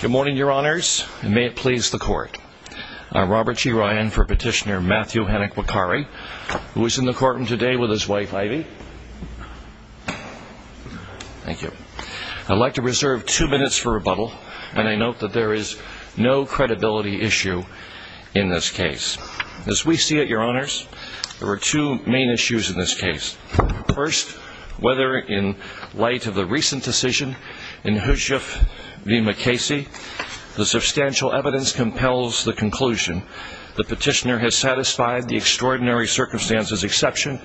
Good morning, your honors, and may it please the court. I'm Robert G. Ryan for petitioner Matthew Hennick-Wakkary, who is in the courtroom today with his wife, Ivy. Thank you. I'd like to reserve two minutes for rebuttal, and I note that there is no credibility issue in this case. As we see it, your honors, there are two main issues in this case. First, whether in light of the recent decision in Hushjuf v. McKasey, the substantial evidence compels the conclusion that the petitioner has satisfied the extraordinary circumstances exception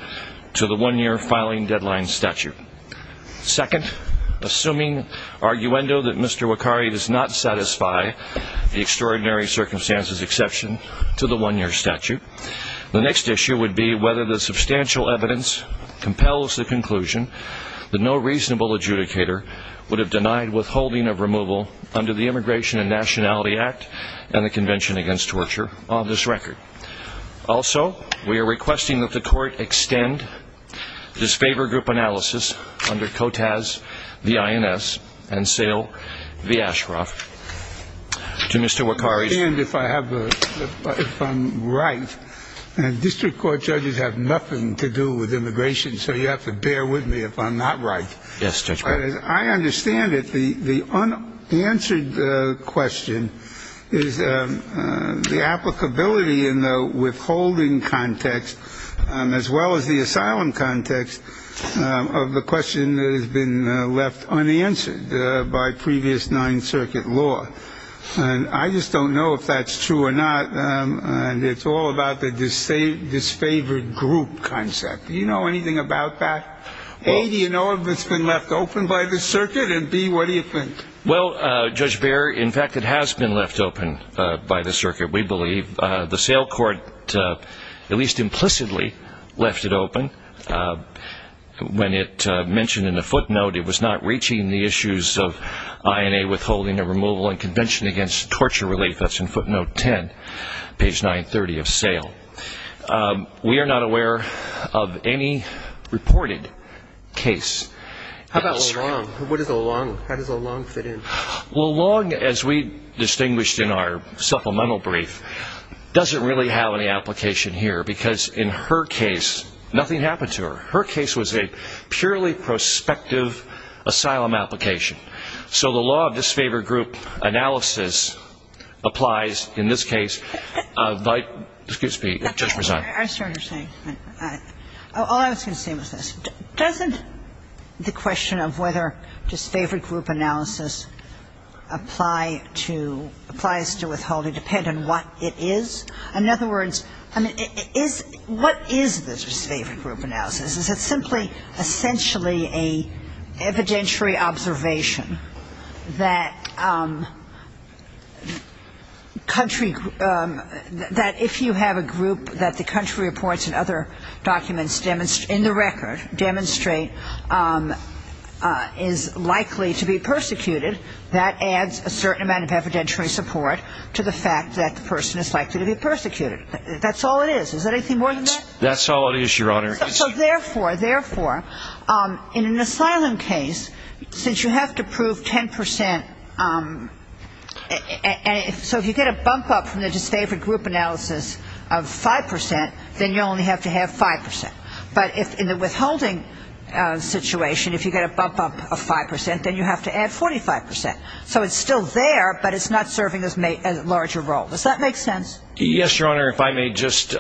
to the one-year filing deadline statute. Second, assuming arguendo that Mr. Wakkary does not satisfy the extraordinary circumstances exception to the one-year statute, the next issue would be whether the substantial evidence compels the conclusion that no reasonable adjudicator would have denied withholding of removal under the Immigration and Nationality Act and the Convention Against Torture on this record. Also, we are requesting that the court extend this favor group analysis under COTAS v. INS and SAIL v. Ashcroft to Mr. Wakkary. I understand if I'm right. District court judges have nothing to do with immigration, so you have to bear with me if I'm not right. Yes, Judge Breyer. As I understand it, the unanswered question is the applicability in the withholding context as well as the asylum context of the question that has been left unanswered by previous Ninth Circuit law. And I just don't know if that's true or not. And it's all about the disfavored group concept. Do you know anything about that? A, do you know if it's been left open by the circuit? And B, what do you think? Well, Judge Beyer, in fact, it has been left open by the circuit, we believe. The SAIL court at least implicitly left it open. When it mentioned in the footnote, it was not reaching the issues of INA withholding of removal and Convention Against Torture relief. That's in footnote 10, page 930 of SAIL. We are not aware of any reported case. How about O'Long? What is O'Long? How does O'Long fit in? O'Long, as we distinguished in our supplemental brief, doesn't really have any application here because in her case, nothing happened to her. Her case was a purely prospective asylum application. So the law of disfavored group analysis applies in this case. Excuse me, Judge Bresant. I was trying to say, all I was going to say was this. Doesn't the question of whether disfavored group analysis applies to withholding depend on what it is? In other words, I mean, what is the disfavored group analysis? Is it simply essentially an evidentiary observation that country, that if you have a group that the country reports and other documents in the record demonstrate is likely to be persecuted, that adds a certain amount of evidentiary support to the fact that the person is likely to be persecuted. That's all it is. Is there anything more than that? That's all it is, Your Honor. So therefore, therefore, in an asylum case, since you have to prove 10 percent, so if you get a bump up from the disfavored group analysis of 5 percent, then you only have to have 5 percent. But in the withholding situation, if you get a bump up of 5 percent, then you have to add 45 percent. So it's still there, but it's not serving as a larger role. Does that make sense? Yes, Your Honor, if I may just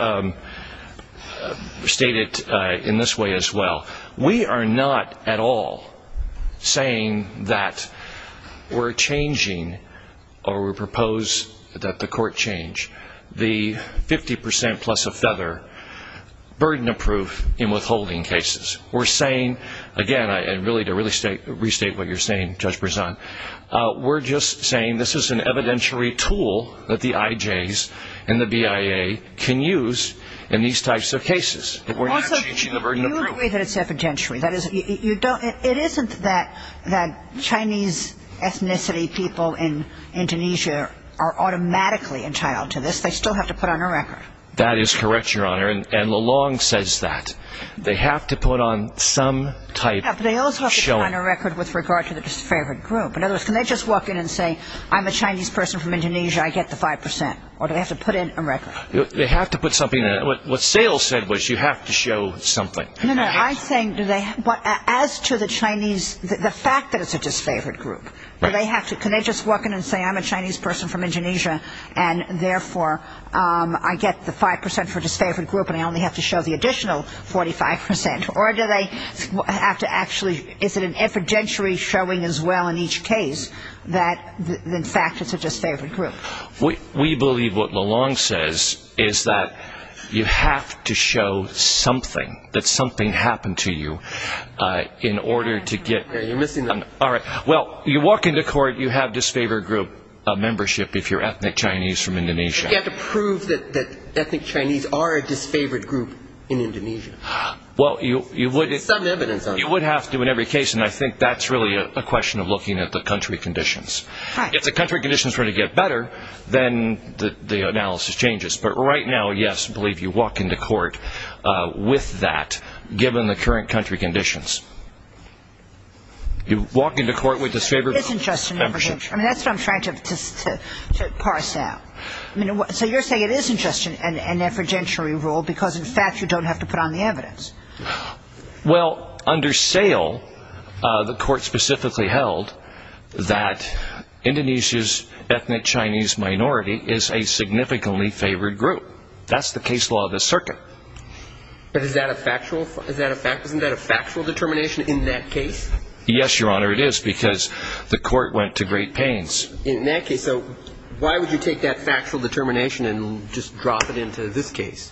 state it in this way as well. We are not at all saying that we're changing or we propose that the court change the 50 percent plus a feather burden of proof in withholding cases. We're saying, again, and really to restate what you're saying, Judge Brisson, we're just saying this is an evidentiary tool that the IJs and the BIA can use in these types of cases. Also, you agree that it's evidentiary. It isn't that Chinese ethnicity people in Indonesia are automatically entitled to this. They still have to put on a record. That is correct, Your Honor, and Lalonde says that. They have to put on some type of showing. But they also have to put on a record with regard to the disfavored group. In other words, can they just walk in and say, I'm a Chinese person from Indonesia, I get the 5 percent, or do they have to put in a record? They have to put something in. What Sayle said was you have to show something. As to the fact that it's a disfavored group, can they just walk in and say, I'm a Chinese person from Indonesia, and therefore I get the 5 percent for disfavored group and I only have to show the additional 45 percent? Or is it an evidentiary showing as well in each case that, in fact, it's a disfavored group? We believe what Lalonde says is that you have to show something, that something happened to you in order to get... You're missing the... Well, you walk into court, you have disfavored group membership if you're ethnic Chinese from Indonesia. But you have to prove that ethnic Chinese are a disfavored group in Indonesia. Well, you would... There's some evidence on that. You would have to in every case, and I think that's really a question of looking at the country conditions. If the country conditions were to get better, then the analysis changes. But right now, yes, we believe you walk into court with that, given the current country conditions. You walk into court with disfavored membership. It isn't just an evidentiary. That's what I'm trying to parse out. So you're saying it isn't just an evidentiary rule because, in fact, you don't have to put on the evidence. Well, under sale, the court specifically held that Indonesia's ethnic Chinese minority is a significantly favored group. That's the case law of the circuit. But isn't that a factual determination in that case? Yes, Your Honor, it is, because the court went to great pains. In that case, so why would you take that factual determination and just drop it into this case?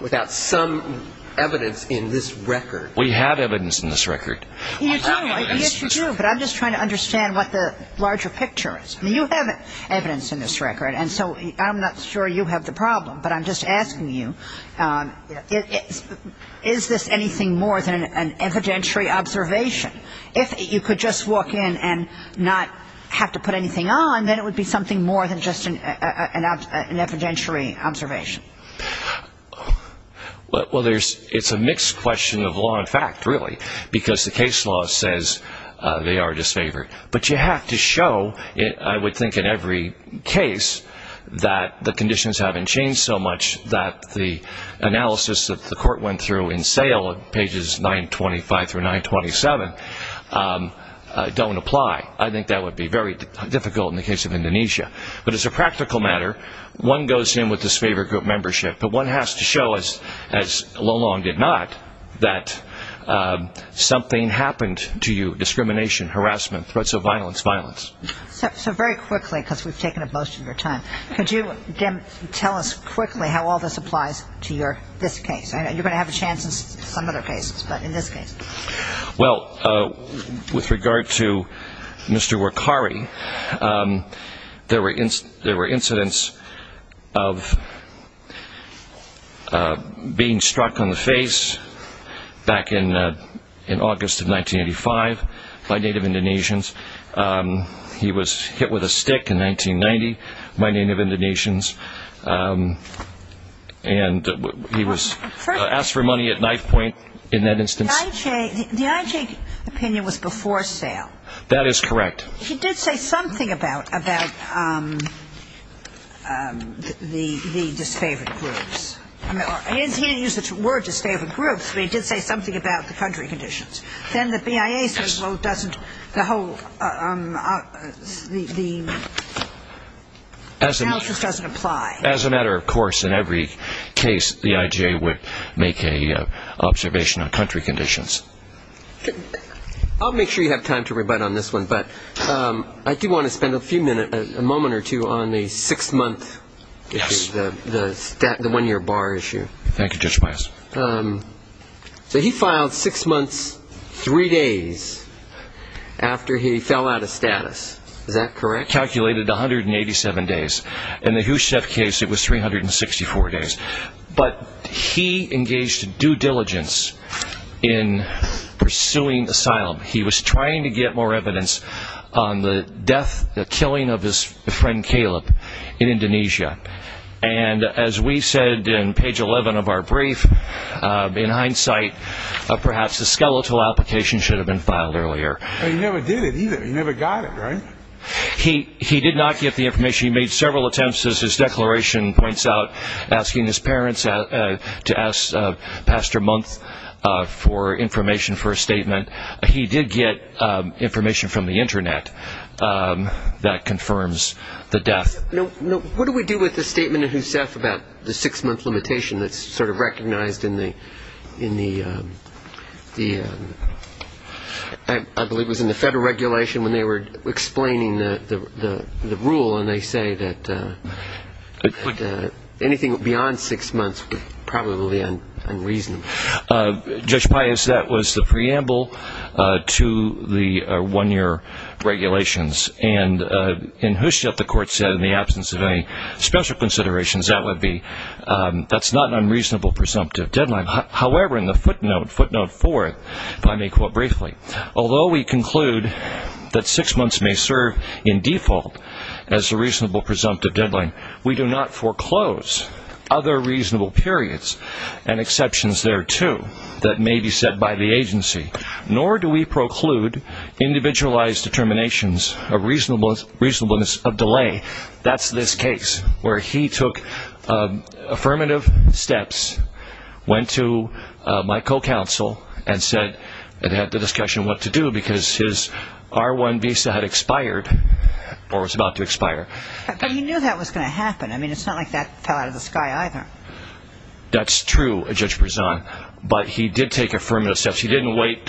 Without some evidence in this record. We have evidence in this record. You do. Yes, you do. But I'm just trying to understand what the larger picture is. I mean, you have evidence in this record, and so I'm not sure you have the problem. But I'm just asking you, is this anything more than an evidentiary observation? If you could just walk in and not have to put anything on, then it would be something more than just an evidentiary observation. Well, it's a mixed question of law and fact, really, because the case law says they are disfavored. But you have to show, I would think in every case, that the conditions haven't changed so much that the analysis that the court went through in sale, pages 925 through 927, don't apply. I think that would be very difficult in the case of Indonesia. But as a practical matter, one goes in with disfavored group membership, but one has to show, as Lo Long did not, that something happened to you, discrimination, harassment, threats of violence, violence. So very quickly, because we've taken up most of your time, could you tell us quickly how all this applies to this case? I know you're going to have a chance in some other cases, but in this case. Well, with regard to Mr. Workari, there were incidents of being struck on the face back in August of 1985 by Native Indonesians. He was hit with a stick in 1990, my Native Indonesians. And he was asked for money at knife point in that instance. The IJ opinion was before sale. That is correct. He did say something about the disfavored groups. He didn't use the word disfavored groups, but he did say something about the country conditions. Then the BIA says, well, the analysis doesn't apply. As a matter of course, in every case, the IJ would make an observation on country conditions. I'll make sure you have time to rebut on this one, but I do want to spend a moment or two on the six-month issue, the one-year bar issue. Thank you, Judge Meyers. So he filed six months, three days after he fell out of status. Is that correct? Calculated 187 days. In the Husef case, it was 364 days. But he engaged due diligence in pursuing asylum. He was trying to get more evidence on the death, the killing of his friend, Caleb, in Indonesia. And as we said in page 11 of our brief, in hindsight, perhaps a skeletal application should have been filed earlier. But he never did it either. He never got it, right? He did not get the information. He made several attempts, as his declaration points out, asking his parents to ask Pastor Month for information for a statement. He did get information from the Internet that confirms the death. What do we do with the statement in Husef about the six-month limitation that's sort of recognized in the, I believe it was in the federal regulation when they were explaining the rule, and they say that anything beyond six months would probably be unreasonable. Judge Pius, that was the preamble to the one-year regulations. And in Husef, the court said in the absence of any special considerations, that would be that's not an unreasonable presumptive deadline. However, in the footnote, footnote four, if I may quote briefly, although we conclude that six months may serve in default as a reasonable presumptive deadline, we do not foreclose other reasonable periods and exceptions thereto that may be set by the agency, nor do we preclude individualized determinations of reasonableness of delay. That's this case, where he took affirmative steps, went to my co-counsel, and said, and had the discussion what to do, because his R1 visa had expired, or was about to expire. But he knew that was going to happen. I mean, it's not like that fell out of the sky either. That's true, Judge Berzon. But he did take affirmative steps. He didn't wait.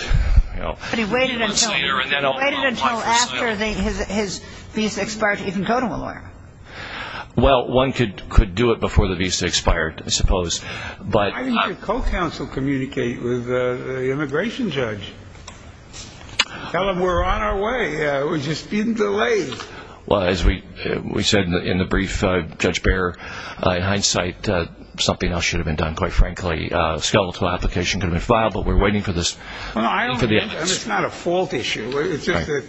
But he waited until after his visa expired to even go to a lawyer. Well, one could do it before the visa expired, I suppose. Why didn't your co-counsel communicate with the immigration judge? Tell him we're on our way. We're just being delayed. Well, as we said in the brief, Judge Behr, in hindsight, something else should have been done, quite frankly. A skeletal application could have been filed, but we're waiting for this. No, I don't think it's not a fault issue. It's just that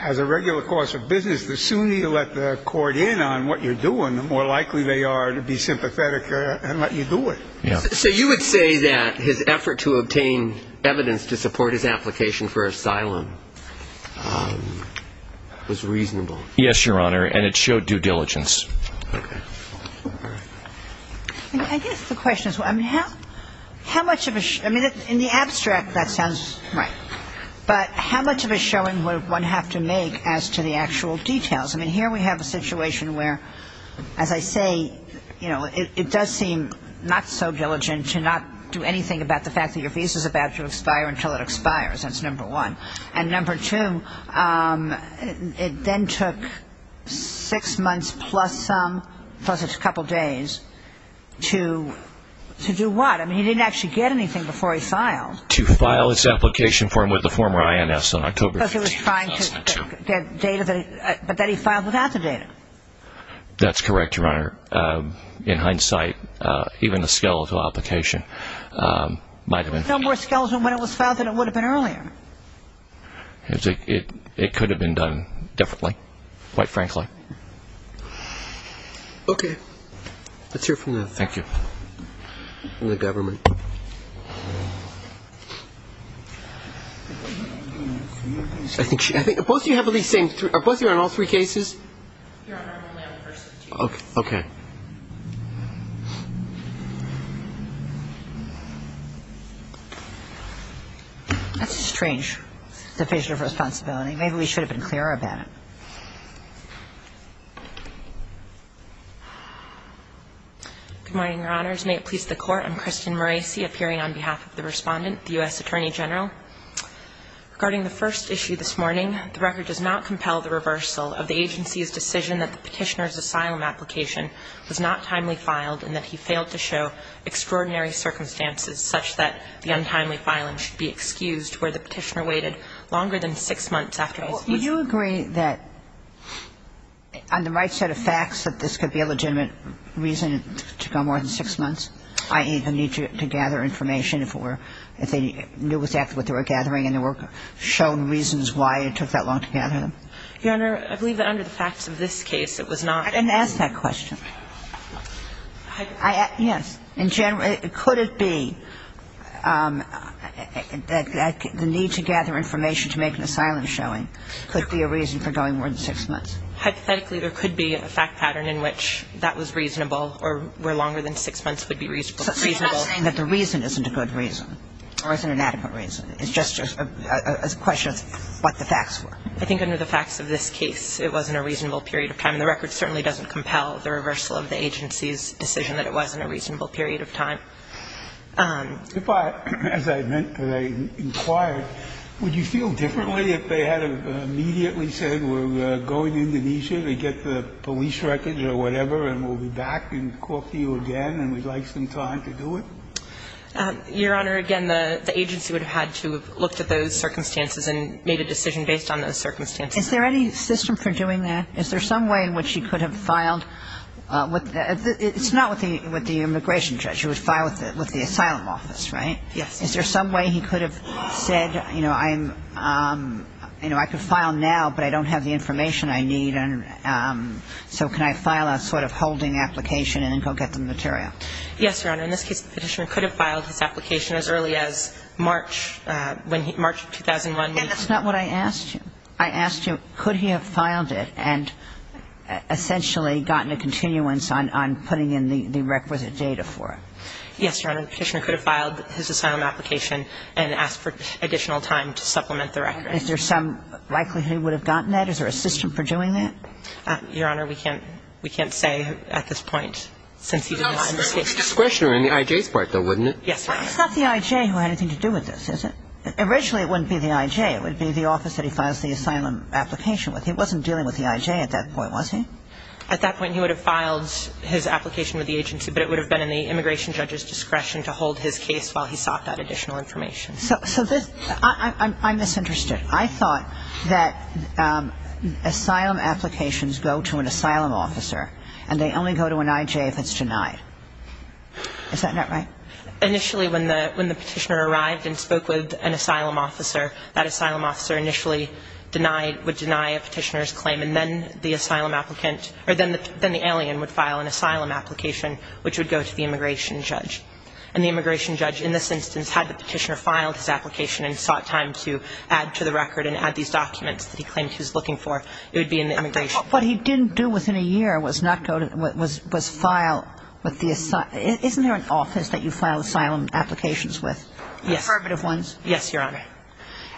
as a regular course of business, the sooner you let the court in on what you're doing, the more likely they are to be sympathetic and let you do it. So you would say that his effort to obtain evidence to support his application for asylum was reasonable? Yes, Your Honor, and it showed due diligence. I guess the question is, I mean, how much of a ‑‑ I mean, in the abstract, that sounds right. But how much of a showing would one have to make as to the actual details? I mean, here we have a situation where, as I say, you know, it does seem not so diligent to not do anything about the fact that your visa is about to expire until it expires. That's number one. And number two, it then took six months plus some, plus a couple days, to do what? I mean, he didn't actually get anything before he filed. To file his application form with the former INS on October 15, 2002. Because he was trying to get data, but that he filed without the data. That's correct, Your Honor. In hindsight, even a skeletal application might have been. There's a number of skeletons when it was filed that it would have been earlier. It could have been done differently, quite frankly. Okay. Let's hear from the ‑‑ Thank you. ‑‑ the government. I think both of you have at least the same, are both of you on all three cases? Your Honor, I'm only on the first of the two. Okay. That's a strange definition of responsibility. Maybe we should have been clearer about it. Good morning, Your Honors. May it please the Court. I'm Kristen Maraci, appearing on behalf of the Respondent, the U.S. Attorney General. Regarding the first issue this morning, the record does not compel the reversal of the agency's decision that the Petitioner's asylum application was not timely filed and that he failed to show extraordinary circumstances such that the untimely filing should be excused where the Petitioner waited longer than six months after his ‑‑ Well, would you agree that, on the right set of facts, that this could be a legitimate reason to go more than six months, i.e., the need to gather information if it were ‑‑ if they knew exactly what they were gathering and there were shown reasons why it took that long to gather them? Your Honor, I believe that under the facts of this case, it was not ‑‑ And ask that question. Yes. In general, could it be that the need to gather information to make an asylum showing could be a reason for going more than six months? Hypothetically, there could be a fact pattern in which that was reasonable or where longer than six months would be reasonable. So you're not saying that the reason isn't a good reason or isn't an adequate reason. It's just a question of what the facts were. I think under the facts of this case, it wasn't a reasonable period of time. And the record certainly doesn't compel the reversal of the agency's decision that it wasn't a reasonable period of time. If I ‑‑ as I meant to say, inquired, would you feel differently if they had immediately said we're going to Indonesia to get the police wreckage or whatever and we'll be back and talk to you again and we'd like some time to do it? Your Honor, again, the agency would have had to have looked at those circumstances and made a decision based on those circumstances. Is there any system for doing that? Is there some way in which you could have filed? It's not with the immigration judge. You would file with the asylum office, right? Yes. Is there some way he could have said, you know, I'm ‑‑ you know, I could file now, but I don't have the information I need. And so can I file a sort of holding application and then go get the material? Yes, Your Honor. In this case, the Petitioner could have filed his application as early as March, when he ‑‑ March of 2001. And that's not what I asked you. I asked you, could he have filed it and essentially gotten a continuance on putting in the requisite data for it? Yes, Your Honor. The Petitioner could have filed his asylum application and asked for additional time to supplement the record. Is there some likelihood he would have gotten that? Is there a system for doing that? Your Honor, we can't ‑‑ we can't say at this point, since he didn't escape discretion in the I.J.'s part, though, wouldn't it? Yes, Your Honor. It's not the I.J. who had anything to do with this, is it? Originally, it wouldn't be the I.J. It would be the office that he files the asylum application with. He wasn't dealing with the I.J. at that point, was he? At that point, he would have filed his application with the agency, but it would have been in the immigration judge's discretion to hold his case while he sought that additional information. So this ‑‑ I'm misinterested. I thought that asylum applications go to an asylum officer, and they only go to an I.J. if it's denied. Is that not right? Initially, when the Petitioner arrived and spoke with an asylum officer, that asylum officer initially denied ‑‑ would deny a Petitioner's claim, and then the asylum applicant ‑‑ or then the alien would file an asylum application, which would go to the immigration judge. And the immigration judge, in this instance, had the Petitioner filed his application and sought time to add to the record and add these documents that he claimed he was looking for. It would be in the immigration ‑‑ But what he didn't do within a year was not go to ‑‑ was file with the ‑‑ isn't there an office that you file asylum applications with? Yes. Affirmative ones? Yes, Your Honor.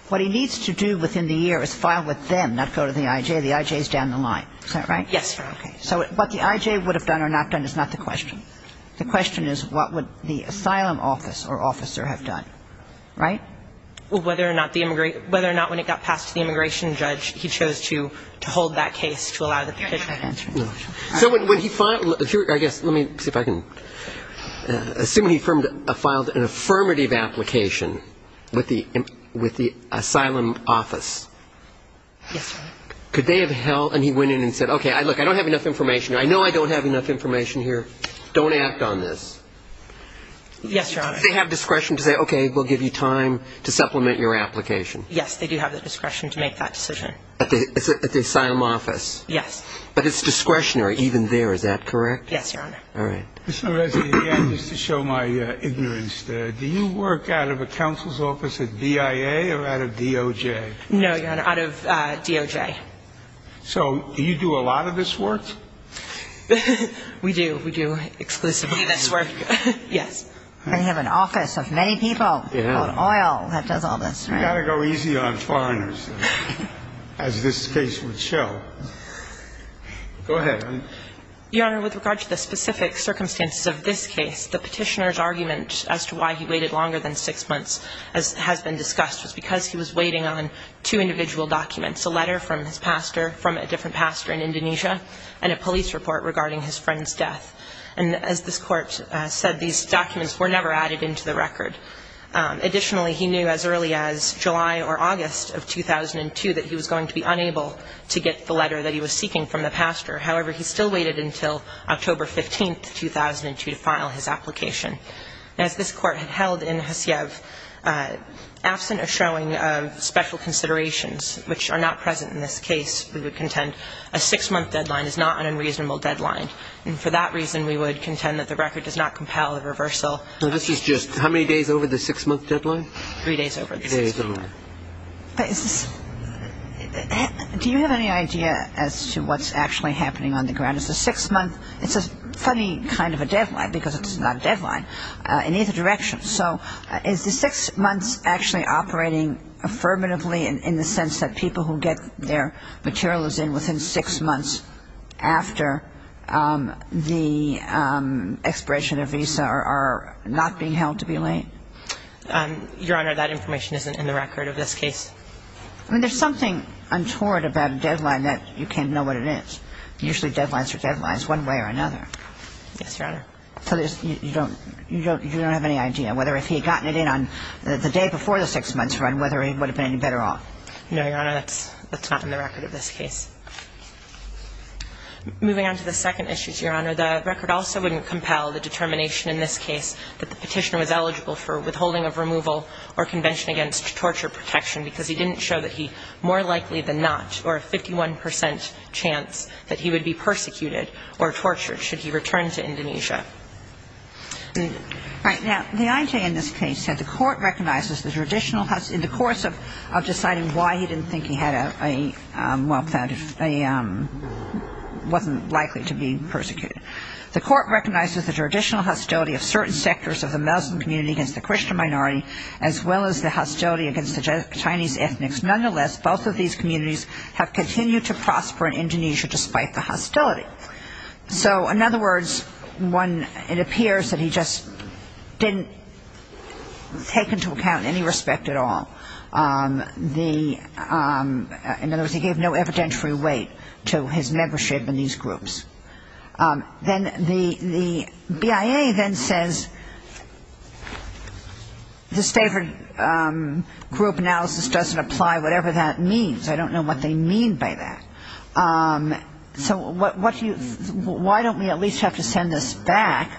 What he needs to do within the year is file with them, not go to the I.J. The I.J. is down the line. Is that right? Yes, Your Honor. Okay. So what the I.J. would have done or not done is not the question. The question is what would the asylum office or officer have done. Right? Well, whether or not the ‑‑ whether or not when it got passed to the immigration judge, he chose to hold that case to allow the Petitioner. Your Honor, I can't answer that. So when he filed ‑‑ I guess, let me see if I can ‑‑ assume he filed an affirmative application with the asylum office. Yes, Your Honor. Could they have held ‑‑ and he went in and said, okay, look, I don't have enough information. I know I don't have enough information here. Don't act on this. Yes, Your Honor. Do they have discretion to say, okay, we'll give you time to supplement your application? Yes, they do have the discretion to make that decision. At the asylum office? Yes. But it's discretionary even there. Is that correct? Yes, Your Honor. All right. Ms. Norezzy, again, just to show my ignorance, do you work out of a counsel's office at BIA or out of DOJ? No, Your Honor, out of DOJ. So do you do a lot of this work? We do. We do exclusively this work. Yes. They have an office of many people on oil that does all this, right? You've got to go easy on foreigners, as this case would show. Go ahead. Your Honor, with regard to the specific circumstances of this case, the Petitioner's argument as to why he waited longer than six months, as has been discussed, was because he was waiting on two individual documents, a letter from his pastor from a different pastor in Indonesia, and a police report regarding his friend's death. And as this Court said, these documents were never added into the record. Additionally, he knew as early as July or August of 2002 that he was going to be unable to get the letter that he was seeking from the pastor. However, he still waited until October 15, 2002, to file his application. As this Court had held in Haciev, absent a showing of special considerations, which are not present in this case, we would contend a six-month deadline is not an unreasonable deadline. And for that reason, we would contend that the record does not compel a reversal. This is just how many days over the six-month deadline? Three days over the six-month deadline. Do you have any idea as to what's actually happening on the ground? It's a six-month. It's a funny kind of a deadline, because it's not a deadline in either direction. So is the six months actually operating affirmatively in the sense that people who get their materials in within six months after the expiration of a visa are not being held to be late? Your Honor, that information isn't in the record of this case. I mean, there's something untoward about a deadline that you can't know what it is. Usually deadlines are deadlines one way or another. Yes, Your Honor. So you don't have any idea, whether if he had gotten it in on the day before the six-months run, whether he would have been any better off? No, Your Honor. That's not in the record of this case. Moving on to the second issue, Your Honor, the record also wouldn't compel the determination in this case that the Petitioner was eligible for withholding of removal or convention against torture protection because he didn't show that he more likely than not or a 51 percent chance that he would be persecuted or tortured should he return to Indonesia. All right. Now, the IJ in this case said the Court recognizes the traditional hostility in the course of deciding why he didn't think he had a well-founded, wasn't likely to be persecuted. The Court recognizes the traditional hostility of certain sectors of the Muslim community against the Christian minority as well as the hostility against the Chinese ethnics. Nonetheless, both of these communities have continued to prosper in Indonesia despite the hostility. So, in other words, one, it appears that he just didn't take into account any respect at all. In other words, he gave no evidentiary weight to his membership in these groups. Then the BIA then says, this favored group analysis doesn't apply, whatever that means. I don't know what they mean by that. So why don't we at least have to send this back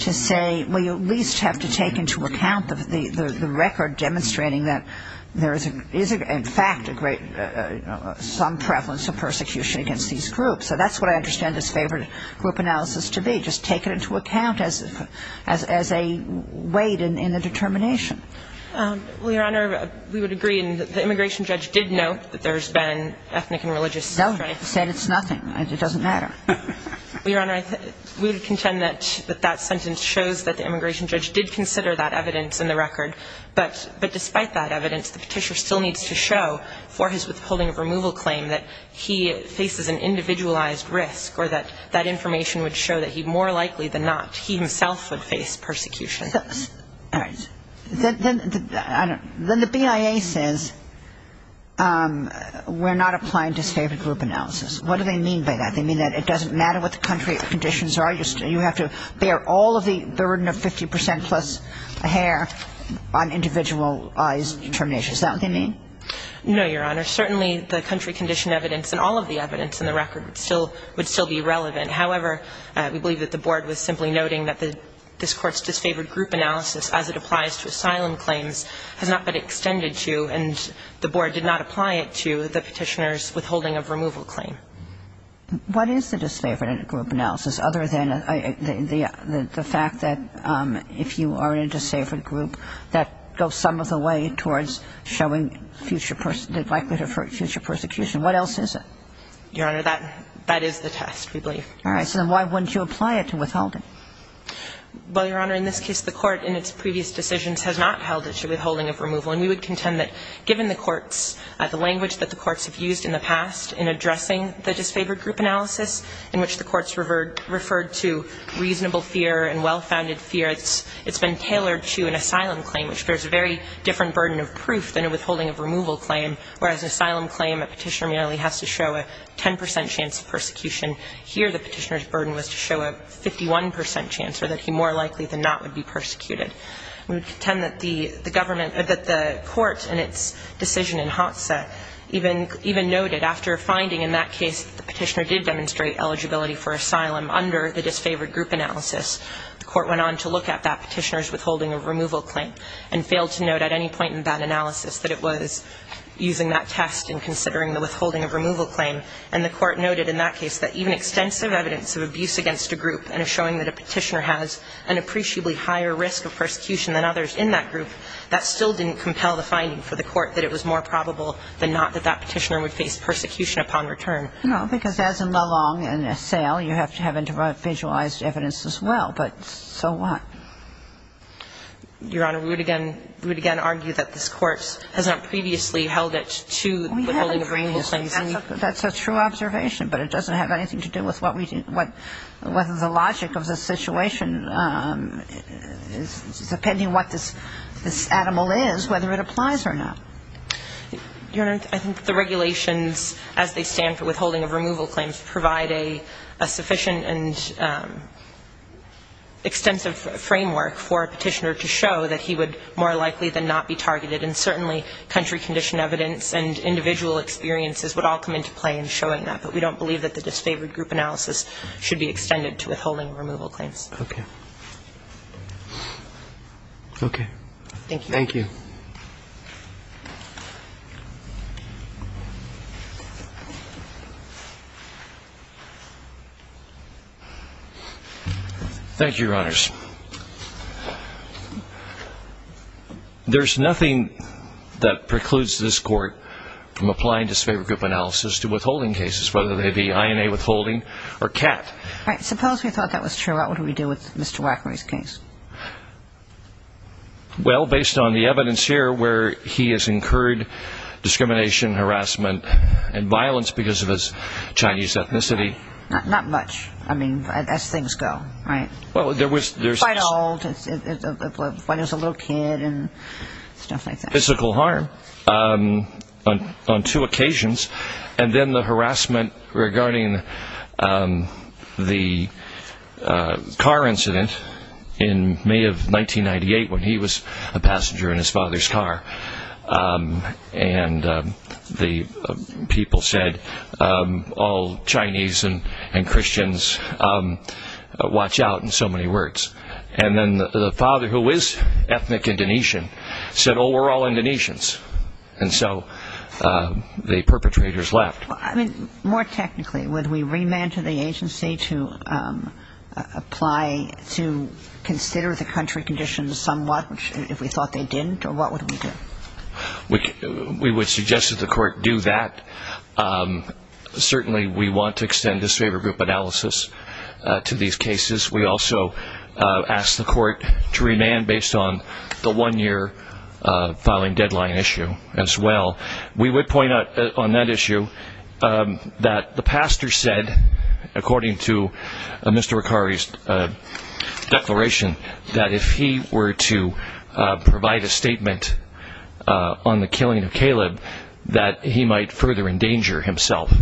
to say, well, you at least have to take into account the record demonstrating that there is, in fact, some prevalence of persecution against these groups. So that's what I understand this favored group analysis to be, just take it into account as a weight in the determination. Well, Your Honor, we would agree. And the immigration judge did note that there's been ethnic and religious. No, he said it's nothing. It doesn't matter. Well, Your Honor, we would contend that that sentence shows that the immigration judge did consider that evidence in the record. But despite that evidence, the Petitioner still needs to show for his withholding of removal claim that he faces an individualized risk or that that information would show that he more likely than not, he himself would face persecution. All right. Then the BIA says we're not applying to favored group analysis. What do they mean by that? They mean that it doesn't matter what the country conditions are, you have to bear all of the burden of 50 percent plus hair on individualized determination. Is that what they mean? No, Your Honor. Certainly, the country condition evidence and all of the evidence in the record would still be relevant. However, we believe that the Board was simply noting that this Court's disfavored group analysis as it applies to asylum claims has not been extended to and the Board did not apply it to the Petitioner's withholding of removal claim. What is the disfavored group analysis other than the fact that if you are in a disfavored group, that goes some of the way towards showing future person, the likelihood of future persecution. What else is it? Your Honor, that is the test, we believe. All right. So then why wouldn't you apply it to withholding? Well, Your Honor, in this case, the Court in its previous decisions has not held it to withholding of removal. And we would contend that given the courts, the language that the courts have used in the past in addressing the disfavored group analysis in which the courts referred to reasonable fear and well-founded fear, it's been tailored to an asylum claim, which bears a very different burden of proof than a withholding of removal claim, whereas an asylum claim, a Petitioner merely has to show a 10 percent chance of persecution. Here, the Petitioner's burden was to show a 51 percent chance, or that he more likely than not would be persecuted. We would contend that the government or that the courts in its decision in Hotza even noted after finding in that case that the Petitioner did demonstrate eligibility for asylum under the disfavored group analysis, the Court went on to look at that Petitioner's withholding of removal claim and failed to note at any point in that analysis that it was using that test in considering the withholding of removal claim. And the Court noted in that case that even extensive evidence of abuse against a group and a showing that a Petitioner has an appreciably higher risk of persecution than others in that group, that still didn't compel the finding for the Court that it was more probable than not that that Petitioner would face persecution upon return. MS. MCGOWAN. I know, because as in Melong and Assail, you have to have individualized evidence as well. But so what? MS. NIEUSMA. Your Honor, we would again argue that this Court has not previously held it to withholding a removal claim. MS. MCGOWAN. We haven't previously. That's a true observation, but it doesn't have anything to do with what we do — what the logic of the situation is, depending on what this animal is, whether it applies or not. MS. NIEUSMA. Your Honor, I think the regulations, as they stand for withholding of removal claims, provide a sufficient and extensive framework for a petitioner to show that he would more likely than not be targeted. And certainly, country condition evidence and individual experiences would all come into play in showing that. But we don't believe that the disfavored group analysis should be extended to withholding removal claims. MS. MCGOWAN. Okay. MS. NIEUSMA. Thank you. MR. WACKER. Thank you, Your Honors. There's nothing that precludes this Court from applying disfavored group analysis to withholding cases, whether they be INA withholding or CAT. MS. MCGOWAN. All right. Suppose we thought that was true. What would we do with Mr. Wacker's case? Well, based on the evidence, the evidence that we have, he has incurred discrimination, harassment, and violence because of his Chinese ethnicity. MS. MCGOWAN. Not much. I mean, as things go, right? MR. WACKER. Well, there was... MS. MCGOWAN. When he was a little kid and stuff like that. MR. WACKER. Physical harm on two occasions. And then the harassment regarding the car incident in May of 1998 when he was a passenger in his father's car. And the people said, all Chinese and Christians, watch out, in so many words. And then the father, who is ethnic Indonesian, said, oh, we're all Indonesians. And so the perpetrators left. MS. MCGOWAN. I mean, more technically, would we remand to the agency to apply, to consider the country conditions somewhat if we thought they didn't? Or what would we do? MR. WACKER. We would suggest that the court do that. Certainly we want to extend this favor group analysis to these cases. We also ask the court to remand based on the one-year filing deadline issue as well. We would point out on that issue that the pastor said, according to Mr. Ricari's declaration, that if he were to provide a statement on the killing of Caleb, that he might further endanger himself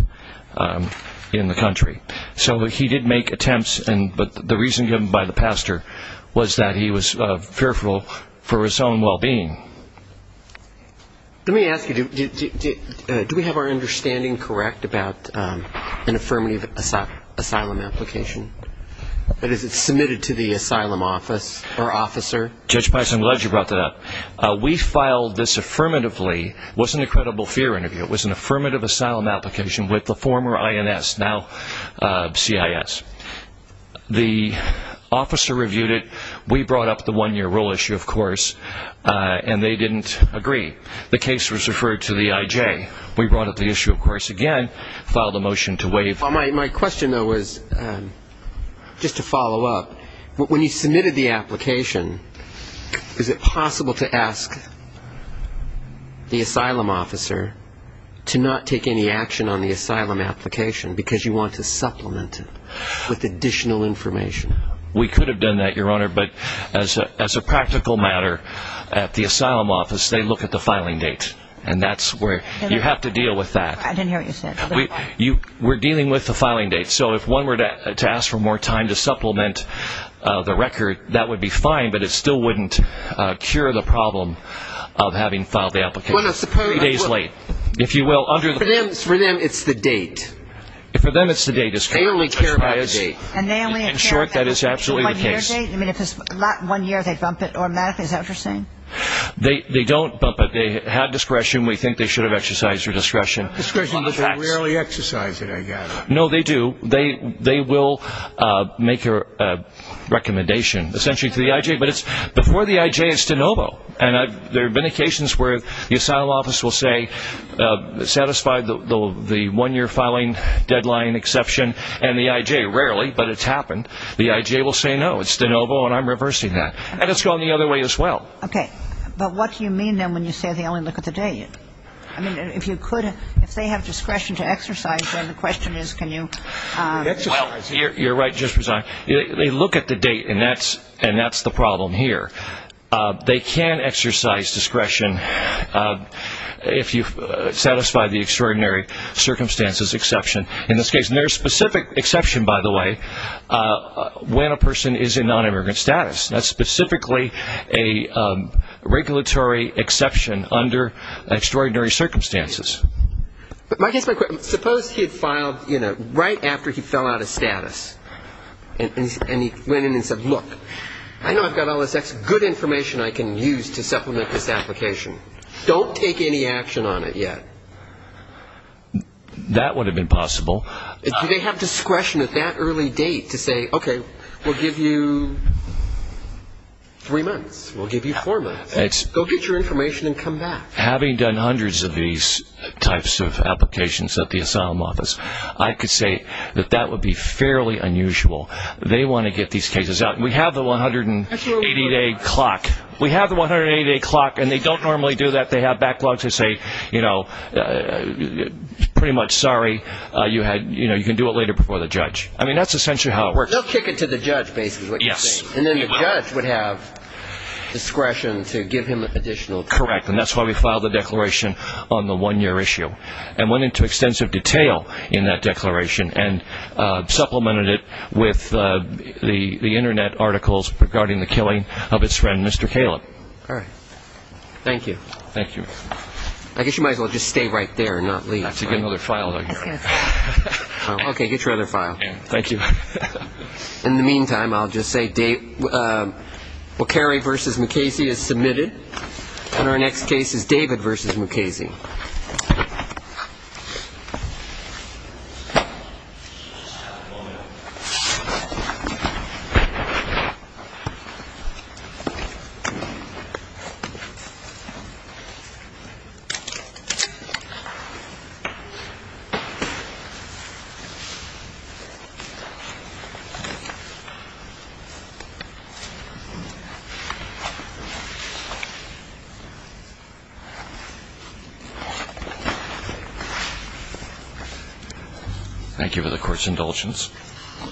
in the country. So he did make attempts, but the reason given by the pastor was that he was fearful for his own well-being. MR. MCGOWAN. Let me ask you, do we have our understanding correct about an affirmative asylum application? That is, it's submitted to the asylum office or officer? MR. WACKER. Judge Pice, I'm glad you brought that up. We filed this affirmatively. It was an incredible fear interview. It was an affirmative asylum application with the former INS. Now CIS. The officer reviewed it. We brought up the one-year rule issue, of course, and they didn't agree. The case was referred to the IJ. We brought up the issue, of course, again, filed a motion to waive. MR. MCGOWAN. My question, though, was just to follow up. When you submitted the application, is it possible to ask the asylum officer to not take any action on the asylum application because you want to supplement it with additional information? MR. WACKER. We could have done that, Your Honor, but as a practical matter, at the asylum office, they look at the filing date, and that's where you have to deal with that. MR. MCGOWAN. I didn't hear what you said. MR. WACKER. We're dealing with the filing date. So if one were to ask for more time to supplement the record, that would be fine, but it still wouldn't cure the problem of having filed the application three days late. If you will, under the rules. MR. MCGOWAN. For them, it's the date. MR. WACKER. For them, it's the date. MR. MCGOWAN. They only care about the date. In short, that is absolutely the case. MR. MCGOWAN. The one-year date? I mean, if it's not one year, they bump it. Or, Matt, is that what you're saying? MR. WACKER. They don't bump it. They have discretion. We think they should have exercised their discretion. MR. MCGOWAN. They will make a recommendation, essentially, to the I.J. But before the I.J., it's de novo. And there have been occasions where the asylum office will say, satisfy the one-year filing deadline exception, and the I.J. Rarely, but it's happened. The I.J. will say, no, it's de novo, and I'm reversing that. And it's gone the other way as well. MS. BENTON. Okay. But what do you mean, then, when you say they only look at the date? I mean, if you could, if they have discretion to exercise, then the question is, can you look at the date? MS. WACKER. Well, you're right, Justice Brezans. They look at the date, and that's the problem here. They can exercise discretion if you satisfy the extraordinary circumstances exception. In this case, and there's a specific exception, by the way, when a person is in nonimmigrant status. That's specifically a regulatory exception under extraordinary circumstances. MR. BENTON. And he's got a nonimmigrant status. And he's got a nonimmigrant status. And he's got a nonimmigrant status. And he went in and said, look, I know I've got all this good information I can use to supplement this application. Don't take any action on it yet. MR. BENTON. That would have been possible. MR. WACKER. Do they have discretion at that early date to say, okay, we'll give you three months. We'll give you four months. Go get your information and come back. I can use it to supplement my application. I can use it to supplement my application. You can't just look at the date and say, look, that would be fairly unusual. They want to get these cases out. We have the 180-day clock. We have the 180-day clock. And they don't normally do that. They have backlogs. They say, you know, pretty much, sorry, you can do it later before the judge. I mean, that's essentially how it works. They'll kick it to the judge, basically, is what you're saying. WACKER. Yes. MR. BENTON. And then the judge would have discretion to give him Correct. And that's why we filed a declaration on the one-year issue and went into extensive detail in that declaration. And, again, I can use it to supplement my application. MR. BENTON. BENTON. And then we supplemented it with the Internet articles regarding the killing of its friend, Mr. Caleb. BENTON. Thank you. MR. BENTON. MR. BENTON. I guess you might as well just stay right there and not MR. BENTON. I have to get another file out here. MR. BENTON. Okay. Get your other file. MR. BENTON. Thank you. MR. BENTON. All right. MR. BENTON. Thank you. MR. LEBRECHT. Congratulations.